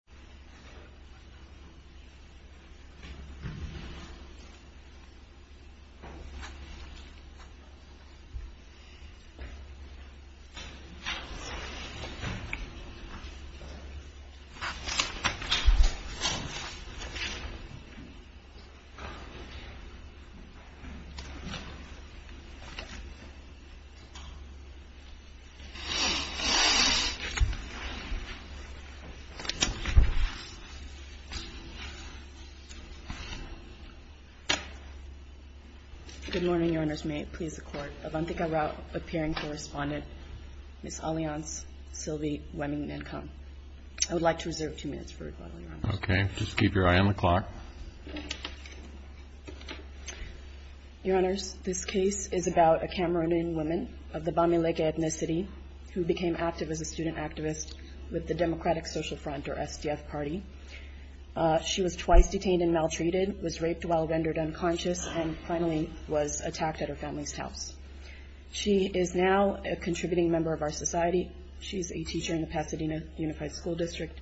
I AM AN INNOVATOR Good morning, Your Honors. May it please the Court, Avantika Rao, Appearing Correspondent, Ms. Alianz, Sylvie, Wemming, and Cohn. I would like to reserve two minutes for rebuttal, Your Honors. Okay. Just keep your eye on the clock. Your Honors, this case is about a Cameroonian woman of the Bamileke ethnicity who became active as a student activist with the Democratic Social Front or SDF party. She was twice detained and maltreated, was raped while rendered unconscious, and finally was attacked at her family's house. She is now a contributing member of our society. She is a teacher in the Pasadena Unified School District.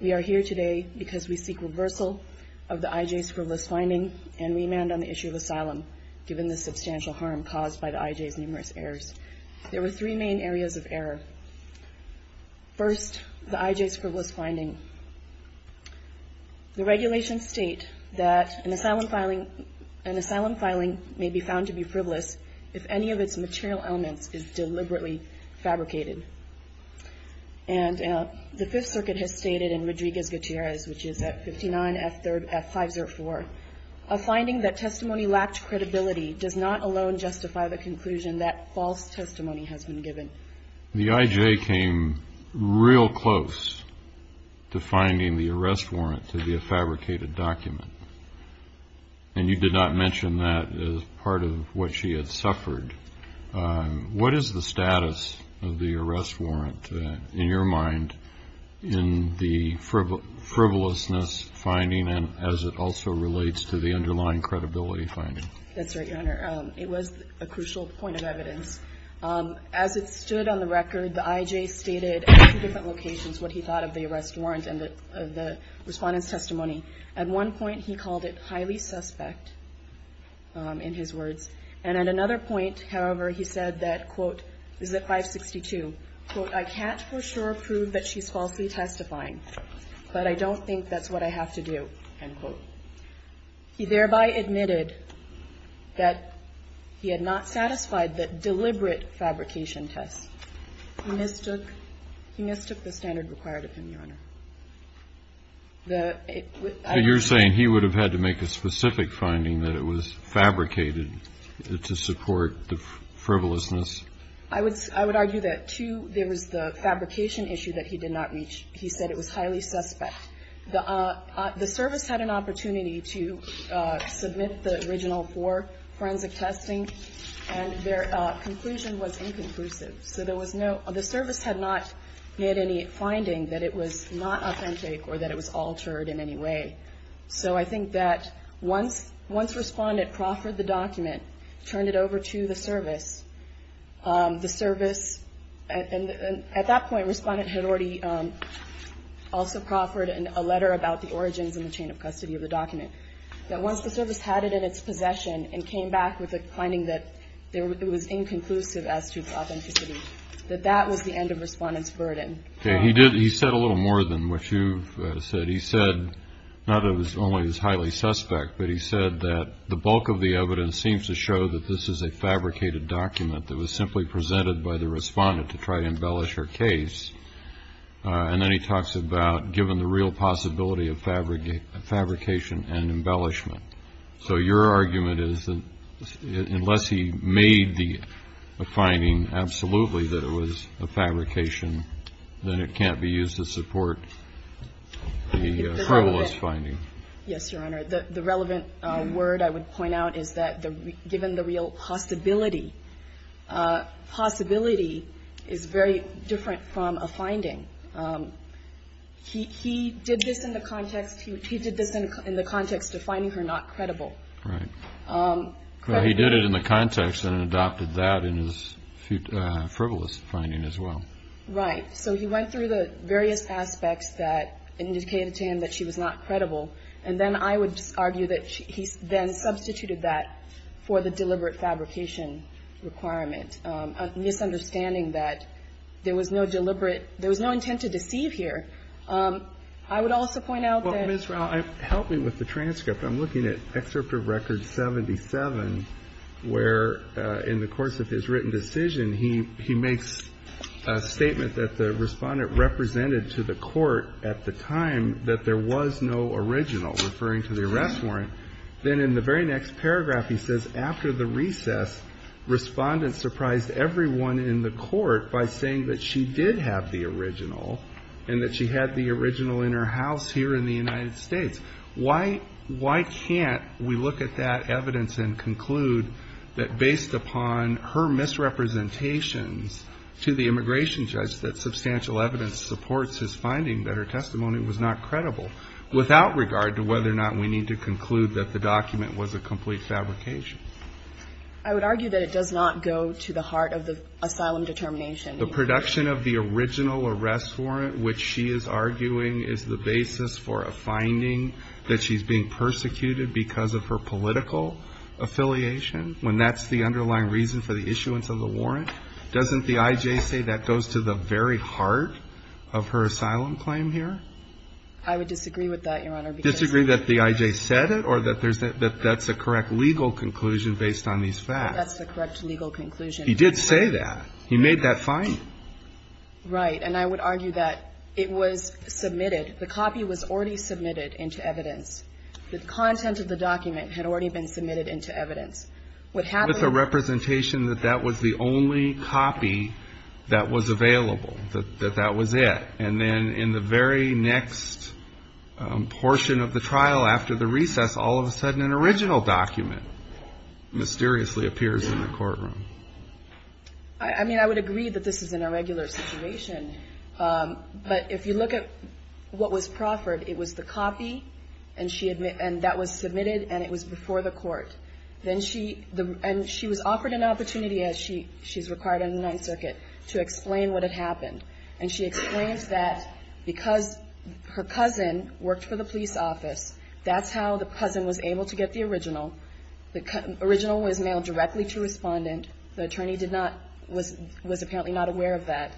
We are here today because we seek reversal of the IJ's frivolous finding and remand on the issue of asylum, given the substantial harm caused by the IJ's numerous errors. There were three main areas of error. First, the IJ's frivolous finding. The regulations state that an asylum filing may be found to be frivolous if any of its material elements is deliberately fabricated. And the Fifth Circuit has stated in Rodriguez-Gutierrez, which is at 59 F504, a finding that testimony lacked credibility does not alone justify the conclusion that false testimony has been given. The IJ came real close to finding the arrest warrant to be a fabricated document. And you did not mention that as part of what she had suffered. What is the status of the arrest warrant in your mind in the frivolousness finding and as it also relates to the underlying credibility finding? That's right, Your Honor. It was a crucial point of evidence. As it stood on the record, the IJ stated at two different locations what he thought of the arrest warrant and the respondent's testimony. At one point, he called it highly suspect in his words. And at another point, however, he said that, quote, is it 562? Quote, I can't for sure prove that she's falsely testifying, but I don't think that's what I have to do, end quote. He thereby admitted that he had not satisfied the deliberate fabrication test. He mistook the standard required of him, Your Honor. The, I don't know. So you're saying he would have had to make a specific finding that it was fabricated to support the frivolousness? I would argue that, too, there was the fabrication issue that he did not reach. He said it was an opportunity to submit the original for forensic testing, and their conclusion was inconclusive. So there was no, the service had not made any finding that it was not authentic or that it was altered in any way. So I think that once respondent proffered the document, turned it over to the service, the service, and at that point, respondent had already also proffered a letter about the origins and the chain of custody of the document, that once the service had it in its possession and came back with a finding that it was inconclusive as to its authenticity, that that was the end of respondent's burden. Okay. He did, he said a little more than what you've said. He said, not that it was only highly suspect, but he said that the bulk of the evidence seems to show that this is a And then he talks about given the real possibility of fabrication and embellishment. So your argument is that unless he made the finding absolutely that it was a fabrication, then it can't be used to support the frivolous finding. Yes, Your Honor. The relevant word I would point out is that given the real possibility, possibility is very different from a finding. He did this in the context, he did this in the context of finding her not credible. He did it in the context and adopted that in his frivolous finding as well. Right. So he went through the various aspects that indicated to him that she was not credible, and then I would argue that he then substituted that for the deliberate fabrication requirement, a misunderstanding that there was no deliberate, there was no intent to deceive here. I would also point out that Well, Ms. Rao, help me with the transcript. I'm looking at Excerpt of Record 77, where in the course of his written decision, he makes a statement that the respondent to the court at the time that there was no original, referring to the arrest warrant. Then in the very next paragraph, he says, after the recess, respondent surprised everyone in the court by saying that she did have the original and that she had the original in her house here in the United States. Why can't we look at that evidence and conclude that based upon her misrepresentations to the immigration judge that substantial evidence supports his finding that her testimony was not credible without regard to whether or not we need to conclude that the document was a complete fabrication? I would argue that it does not go to the heart of the asylum determination. The production of the original arrest warrant, which she is arguing is the basis for a finding that she's being persecuted because of her political affiliation, when that's the underlying reason for the issuance of the warrant, doesn't the I.J. say that goes to the very heart of her asylum claim here? I would disagree with that, Your Honor. Disagree that the I.J. said it or that that's the correct legal conclusion based on these facts? That's the correct legal conclusion. He did say that. He made that finding. Right. And I would argue that it was submitted, the copy was already submitted into evidence. The content of the document had already been submitted into evidence. What happened to the representation that that was the only copy that was available, that that was it? And then in the very next portion of the trial after the recess, all of a sudden, an original document mysteriously appears in the courtroom. I mean, I would agree that this is an irregular situation. But if you look at what was proffered, it was the copy, and that was submitted, and it was before the court. And she was offered an opportunity, as she's required in the Ninth Circuit, to explain what had happened. And she explains that because her cousin worked for the police office, that's how the cousin was able to get the original. The original was mailed directly to a respondent. The attorney was apparently not aware of that.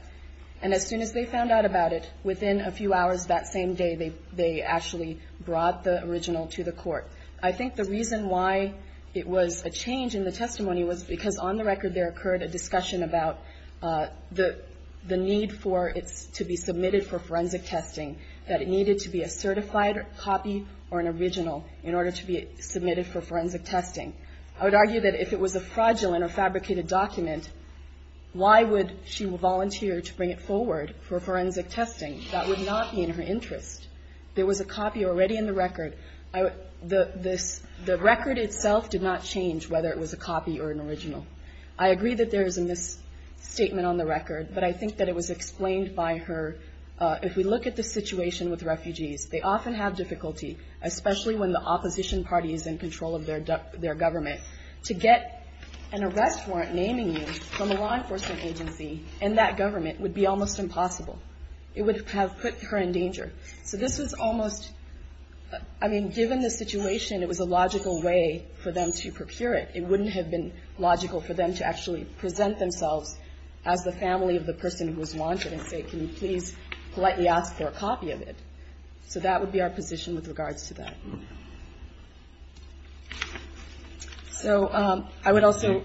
And as soon as they found out about it, within a few hours that same day, they actually brought the original to the court. I think the reason why it was a change in the testimony was because, on the record, there occurred a discussion about the need for it to be submitted for forensic testing, that it needed to be a certified copy or an original in order to be submitted for forensic testing. I would argue that if it was a fraudulent or fabricated document, why would she volunteer to bring it forward for forensic testing? That would not be in her interest. There was a copy already in the record. The record itself did not change whether it was a copy or an original. I agree that there is a misstatement on the record, but I think that it was explained by her. If we look at the situation with refugees, they often have difficulty, especially when the opposition party is in control of their government. To get an arrest warrant naming you from a law enforcement agency and that government would be almost impossible. It would have put her in danger. Given the situation, it was a logical way for them to procure it. It wouldn't have been logical for them to actually present themselves as the family of the person who was wanted and say, can you please politely ask for a copy of it? That would be our position with regards to that. So I would also...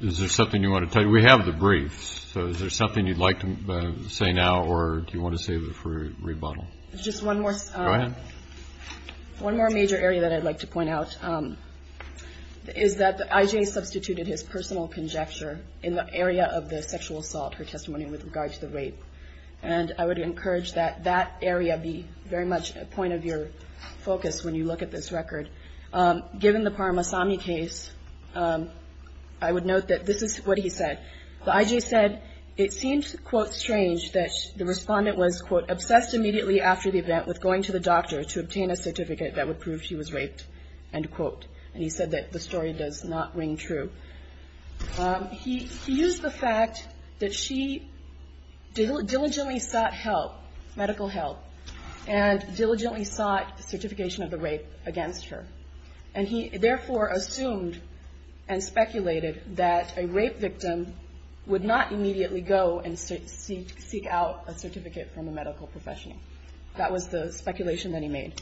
Is there something you want to tell? We have the briefs. So is there something you'd like to say now or do you want to save it for rebuttal? Just one more major area that I'd like to point out is that I.J. substituted his personal conjecture in the area of the sexual assault, her testimony with regard to the rape. And I would encourage that that area be very much a point of your focus. When you look at this record, given the Parmasami case, I would note that this is what he said. The I.J. said it seems, quote, strange that the respondent was, quote, obsessed immediately after the event with going to the doctor to obtain a certificate that would prove she was raped, end quote. And he said that the story does not ring true. He used the fact that she diligently sought help, medical help, and diligently sought certification of the rape against her. And he therefore assumed and speculated that a rape victim would not immediately go and seek out a certificate from a medical professional. That was the speculation that he made.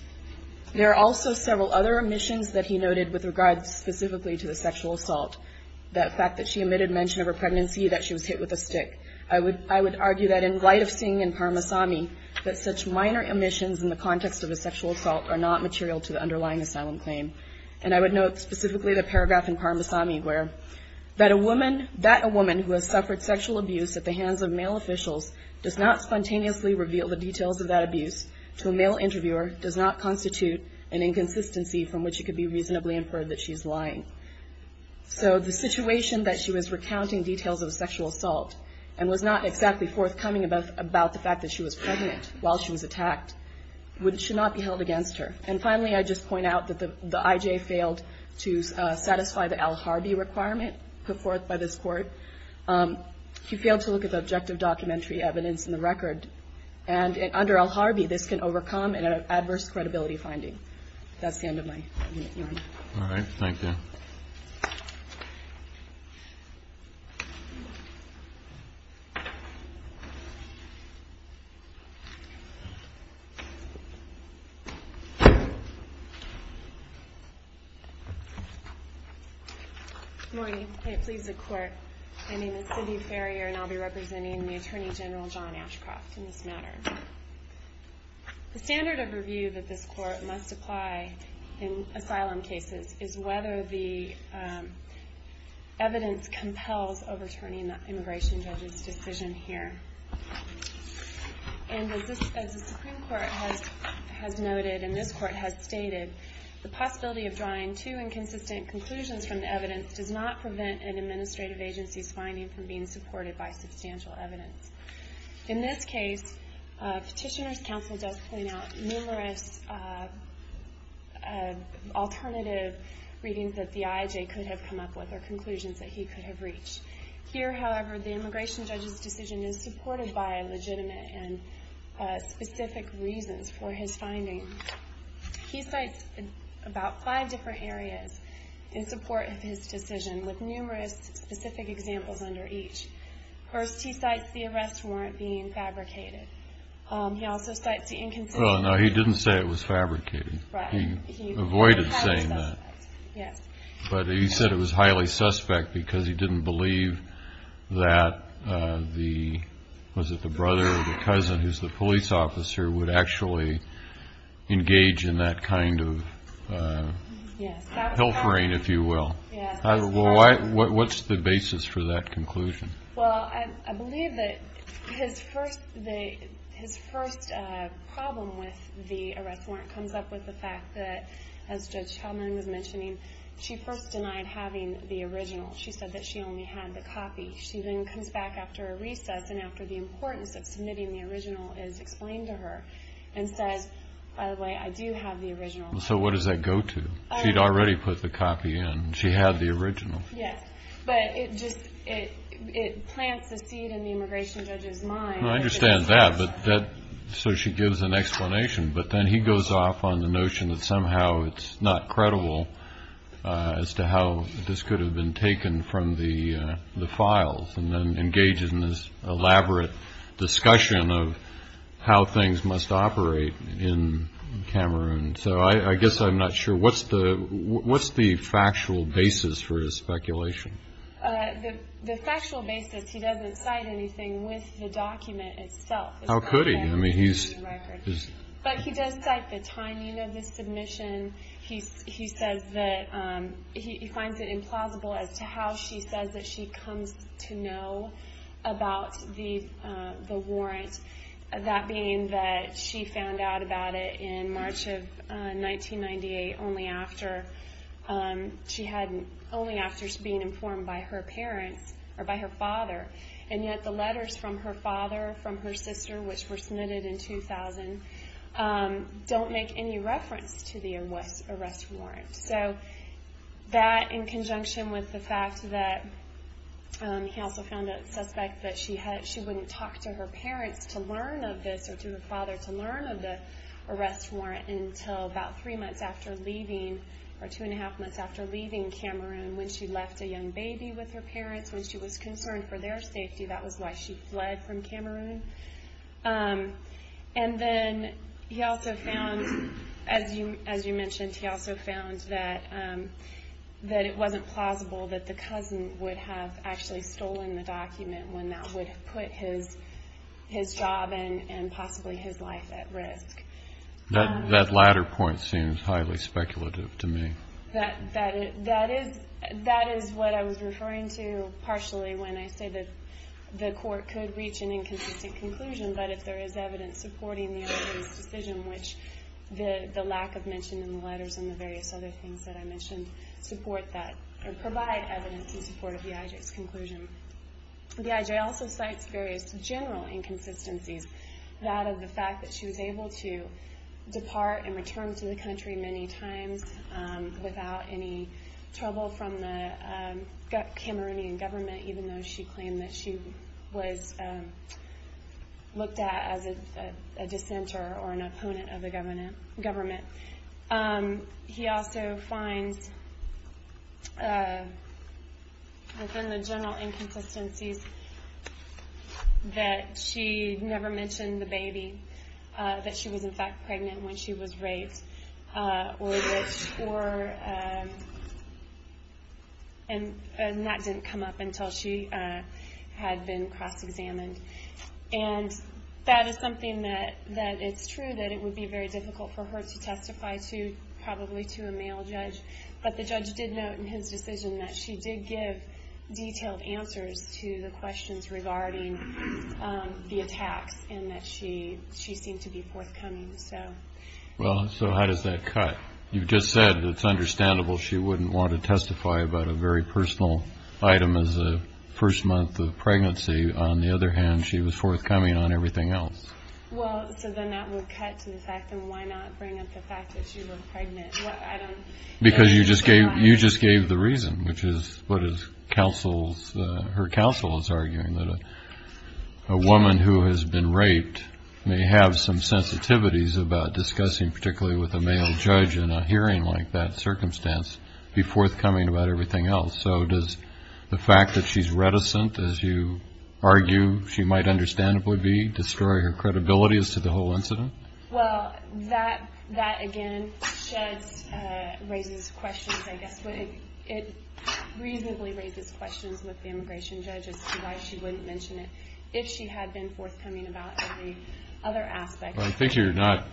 There are also several other omissions that he noted with regards specifically to the sexual assault. That fact that she omitted mention of her pregnancy, that she was hit with a stick. I would argue that in light of seeing in Parmasami that such minor omissions in the context of a sexual assault are not material to the underlying asylum claim. And I would note specifically the paragraph in Parmasami where, that a woman who has suffered sexual abuse at the hands of male officials does not spontaneously reveal the details of that abuse to a male So the situation that she was recounting details of a sexual assault and was not exactly forthcoming about the fact that she was pregnant while she was attacked should not be held against her. And finally, I just point out that the IJ failed to satisfy the Al Harbi requirement put forth by this court. He failed to look at the objective documentary evidence in the record. And under Al Harbi, this can overcome an adverse credibility finding. That's the end of my. Thank you. Good morning. It pleases the court. My name is Sydney Farrier and I'll be representing the Attorney General John Ashcroft in this matter. The standard of review that this court must apply in asylum cases is whether the evidence compels overturning the immigration judge's decision here. And as the Supreme Court has noted and this court has stated, the possibility of drawing too inconsistent conclusions from the evidence does not prevent an administrative agency's finding from being supported by substantial evidence. In this case, Petitioner's Counsel does point out numerous alternative readings that the IJ could have come up with or conclusions that he could have reached. Here, however, the immigration judge's decision is supported by legitimate and specific reasons for his finding. He cites about five different areas in support of his decision with numerous specific examples under each. First, he cites the arrest warrant being fabricated. He also cites the inconsistency. No, he didn't say it was fabricated. He avoided saying that. But he said it was highly suspect because he didn't believe that the, was it the brother or the cousin who's the police officer, would actually engage in that kind of hilfering, if you will. Well, what's the basis for that conclusion? Well, I believe that his first problem with the arrest warrant comes up with the fact that, as Judge Hellman was mentioning, she first denied having the original. She said that she only had the copy. She then comes back after a recess and after the importance of submitting the original is explained to her and says, So what does that go to? She'd already put the copy in. She had the original. Yes, but it just, it plants a seed in the immigration judge's mind. I understand that, but that, so she gives an explanation. But then he goes off on the notion that somehow it's not credible as to how this could have been taken from the files and then engages in this elaborate discussion of how things must operate in Cameroon. I guess I'm not sure. What's the factual basis for his speculation? The factual basis, he doesn't cite anything with the document itself. How could he? But he does cite the timing of the submission. He says that he finds it implausible as to how she says that she comes to know about the warrant, that being that she found out about it in March of 1998, only after she had, only after being informed by her parents, or by her father. And yet the letters from her father, from her sister, which were submitted in 2000, don't make any reference to the arrest warrant. So that, in conjunction with the fact that, he also found a suspect that she wouldn't talk to her parents to learn of this, or to her father to learn of the arrest warrant until about three months after leaving, or two and a half months after leaving Cameroon when she left a young baby with her parents, when she was concerned for their safety. That was why she fled from Cameroon. And then he also found, as you mentioned, he also found that it wasn't plausible that the cousin would have actually stolen the document when that would have put his job and possibly his life at risk. That latter point seems highly speculative to me. That is what I was referring to partially when I say that the court could reach an inconsistent conclusion, but if there is evidence supporting the other person's decision, which the lack of mention in the letters and the various other things that I mentioned provide evidence in support of the IJ's conclusion. The IJ also cites various general inconsistencies. That of the fact that she was able to depart and return to the country many times without any trouble from the Cameroonian government, even though she claimed that she was looked at as a dissenter or an opponent of the government. He also finds within the general inconsistencies that she never mentioned the baby, that she was in fact pregnant when she was raped, and that didn't come up until she had been cross-examined. That is something that it's true that it would be very difficult for her to testify to, probably to a male judge, but the judge did note in his decision that she did give detailed answers to the questions regarding the attacks and that she seemed to be forthcoming. Well, so how does that cut? You just said it's understandable she wouldn't want to testify about a very personal item as a first month of pregnancy. On the other hand, she was forthcoming on everything else. Well, so then that would cut to the fact that why not bring up the fact that she was pregnant? Because you just gave the reason, which is what her counsel is arguing, that a woman who has been raped may have some sensitivities about discussing, particularly with a male judge in a hearing like that circumstance, be forthcoming about everything else. So does the fact that she's reticent, as you argue she might understandably be, destroy her credibility as to the whole incident? Well, that again sheds, raises questions, I guess, but it reasonably raises questions with the immigration judges as to why she wouldn't mention it if she had been forthcoming about every other aspect. I think you're not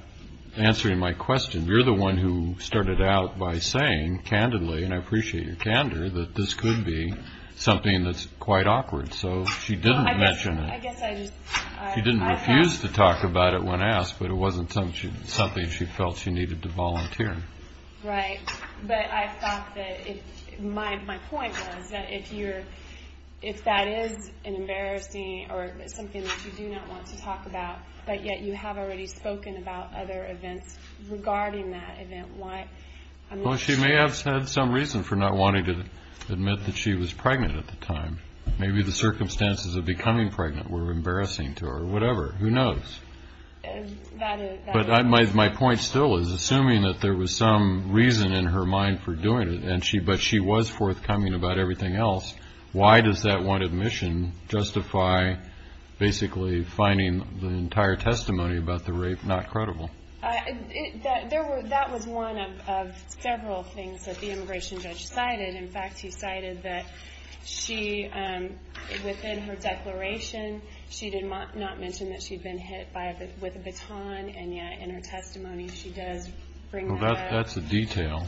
answering my question. You're the one who started out by saying, candidly, and I appreciate your candor, that this could be something that's quite awkward. So she didn't mention it. She didn't refuse to talk about it when asked, but it wasn't something she felt she needed to volunteer. Right. But I thought that my point was that if that is an embarrassing, or something that you do not want to talk about, but yet you have already spoken about other events regarding that event, why? Well, she may have had some reason for not wanting to admit that she was pregnant at the time. Maybe the circumstances of becoming pregnant were embarrassing to her. Whatever. Who knows? But my point still is, assuming that there was some reason in her mind for doing it, but she was forthcoming about everything else, why does that one admission justify basically finding the entire testimony about the rape not credible? That was one of several things that the immigration judge cited. In fact, he cited that she, within her declaration, she did not mention that she'd been hit with a baton, and yet in her testimony, she does bring that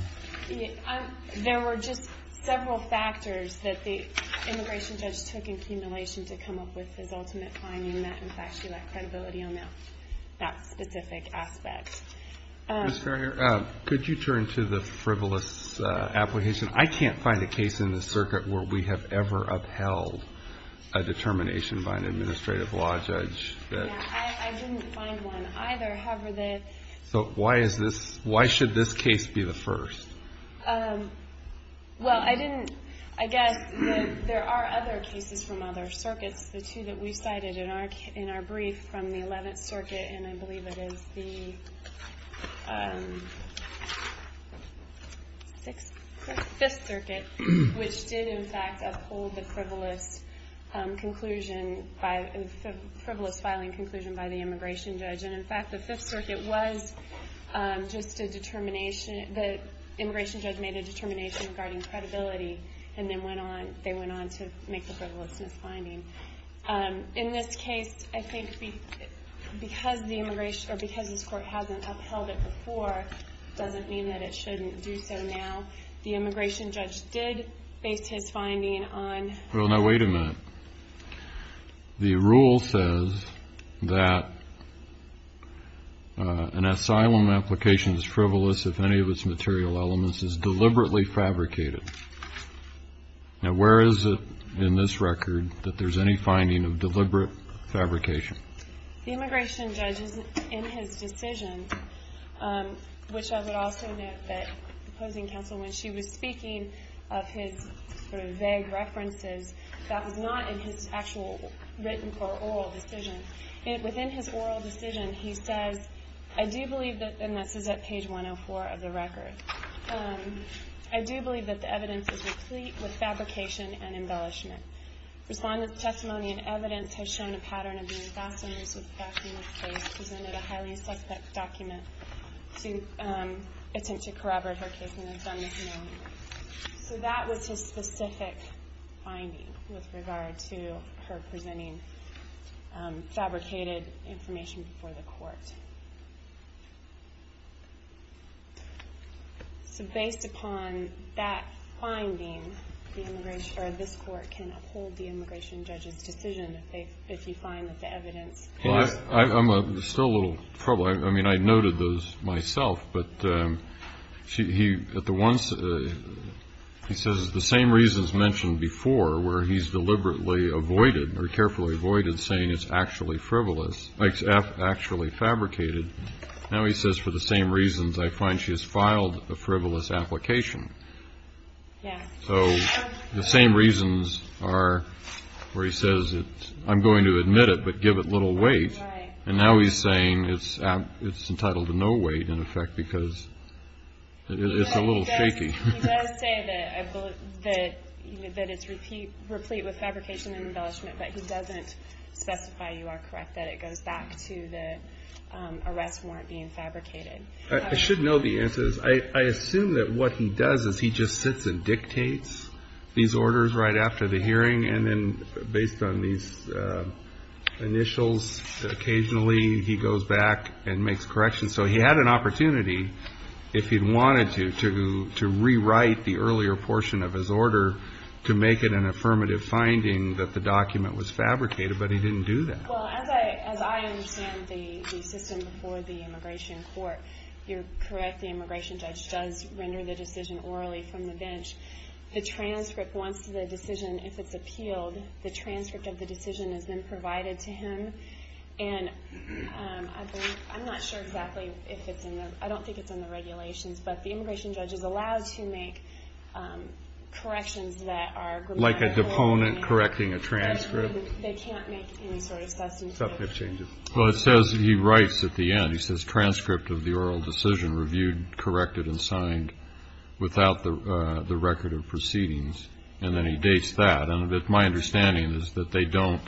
up. There were just several factors that the immigration judge took accumulation to come up with his ultimate finding that, in fact, she lacked credibility on that specific aspect. Ms. Ferrier, could you turn to the frivolous application? I can't find a case in the circuit where we have ever upheld a determination by an administrative law judge. I didn't find one either. Why should this case be the first? Well, I guess there are other cases from other circuits. The two that we cited in our brief from the 11th Circuit, and I believe it is the 5th Circuit, which did, in fact, uphold the frivolous filing conclusion by the immigration judge. In fact, the 5th Circuit was just a determination. The immigration judge made a determination regarding credibility, and then they went on to make the frivolousness finding. In this case, I think because this Court hasn't upheld it before doesn't mean that it shouldn't do so now. The immigration judge did base his finding on... Well, now, wait a minute. The rule says that an asylum application is frivolous if any of its material elements is deliberately fabricated. Now, where is it in this record that there is any finding of deliberate fabrication? The immigration judge, in his decision, which I would also note that opposing counsel, when she was speaking of his vague references, that was not in his actual written or oral decision. Within his oral decision, he says, and this is at page 104 of the record, I do believe that the evidence is replete with fabrication and embellishment. Respondent's testimony and evidence has shown a pattern of being fast and loose with facts in this case. He presented a highly suspect document to attempt to corroborate her case and has done this now. So that was his specific finding with regard to her presenting fabricated information before the court. So based upon that finding, this court can uphold the immigration judge's decision if you find that the evidence... I'm still a little troubled. I mean, I noted those myself, but he says the same reasons mentioned before where he's actually fabricated, now he says for the same reasons I find she has filed a frivolous application. So the same reasons are where he says, I'm going to admit it, but give it little weight. And now he's saying it's entitled to no weight, in effect, because it's a little shaky. He does say that it's replete with fabrication and embellishment, but he doesn't specify, you are correct, that it goes back to the arrest warrant being fabricated. I assume that what he does is he just sits and dictates these orders right after the hearing, and then based on these initials, occasionally he goes back and makes corrections. So he had an opportunity, if he wanted to, to rewrite the earlier portion of his order to make it an affirmative finding that the document was fabricated, but he didn't do that. Well, as I understand the system before the immigration court, you're correct, the immigration judge does render the decision orally from the bench. The transcript, once the decision, if it's appealed, the transcript of the decision is then provided to him. And I think, I'm not sure exactly if it's in the, I don't think it's in the regulations, but the immigration judge is allowed to make corrections that are grammatical. Like a deponent correcting a transcript. They can't make any sort of substantive changes. Well, it says, he writes at the end, he says, transcript of the oral decision reviewed, corrected, and signed without the record of proceedings. And then he dates that. And my understanding is that they don't,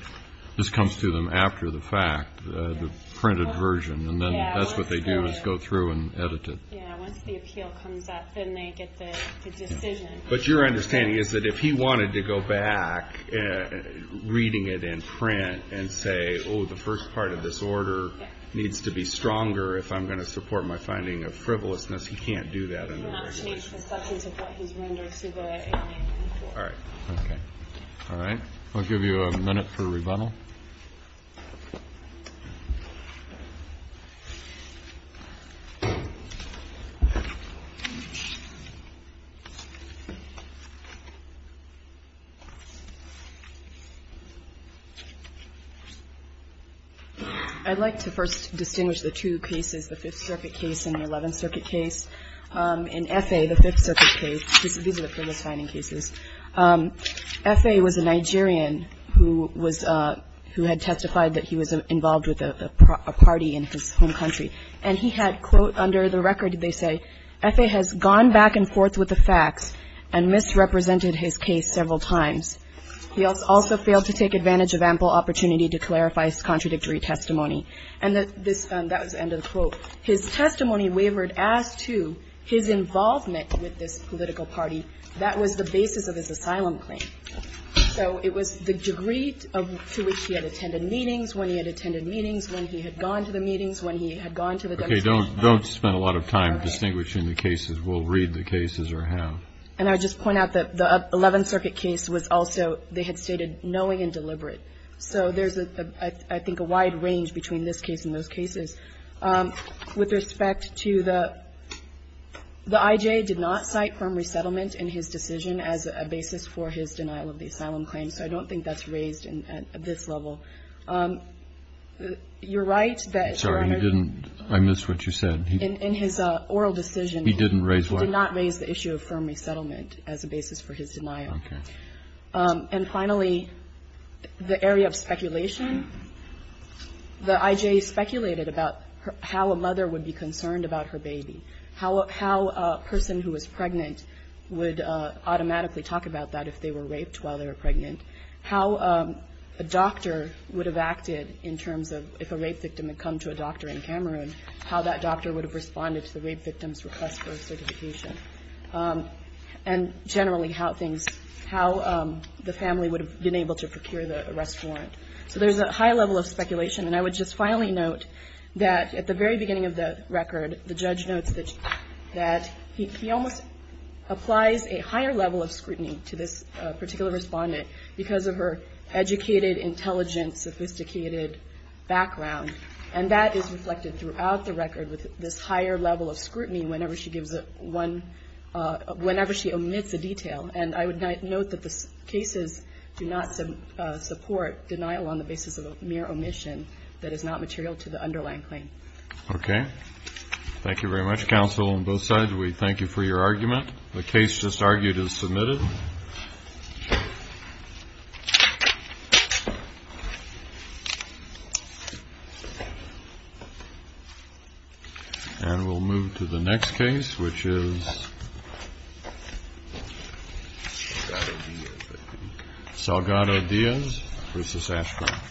this comes to them after the fact, the printed version, and then that's what they do, is go through and edit it. Yeah, once the appeal comes up, then they get the decision. But your understanding is that if he wanted to go back, reading it in print, and say, oh, the first part of this order needs to be stronger if I'm going to support my finding of this particular case. All right. I'll give you a minute for rebuttal. I'd like to first distinguish the two cases, the Fifth Circuit case and the Eleventh Circuit case. These are the previous finding cases. F.A. was a Nigerian who was, who had testified that he was involved with a party in his home country. And he had, quote, under the record, they say, F.A. has gone back and forth with the facts and misrepresented his case several times. He also failed to take advantage of ample opportunity to clarify his contradictory testimony. And this, that was the end of the quote. His testimony wavered as to his involvement with this political party. That was the basis of his asylum claim. So it was the degree to which he had attended meetings, when he had attended meetings, when he had gone to the meetings, when he had gone to the demonstrations. Okay. Don't spend a lot of time distinguishing the cases. We'll read the cases or have. And I would just point out that the Eleventh Circuit case was also, they had stated, knowing and deliberate. So there's, I think, a wide range between this case and those cases. With respect to the, the I.J. did not cite firm resettlement in his decision as a basis for his denial of the asylum claim. So I don't think that's raised at this level. You're right that, Your Honor. I'm sorry. He didn't. I missed what you said. In his oral decision. He didn't raise what? He did not raise the issue of firm resettlement as a basis for his denial. Okay. And finally, the area of speculation. The I.J. speculated about how a mother would be concerned about her baby, how a person who was pregnant would automatically talk about that if they were raped while they were pregnant, how a doctor would have acted in terms of if a rape victim had come to a doctor in Cameroon, how that would have affected the situation, and generally how things, how the family would have been able to procure the arrest warrant. So there's a high level of speculation. And I would just finally note that at the very beginning of the record, the judge notes that he almost applies a higher level of scrutiny to this particular respondent because of her educated, intelligent, sophisticated background. And that is reflected throughout the record with this higher level of scrutiny whenever she gives a one, whenever she omits a detail. And I would note that the cases do not support denial on the basis of a mere omission that is not material to the underlying claim. Okay. Thank you very much, counsel, on both sides. We thank you for your argument. The case just argued is submitted. And we'll move to the next case, which is Salgado Diaz versus Ashcroft. Thank you.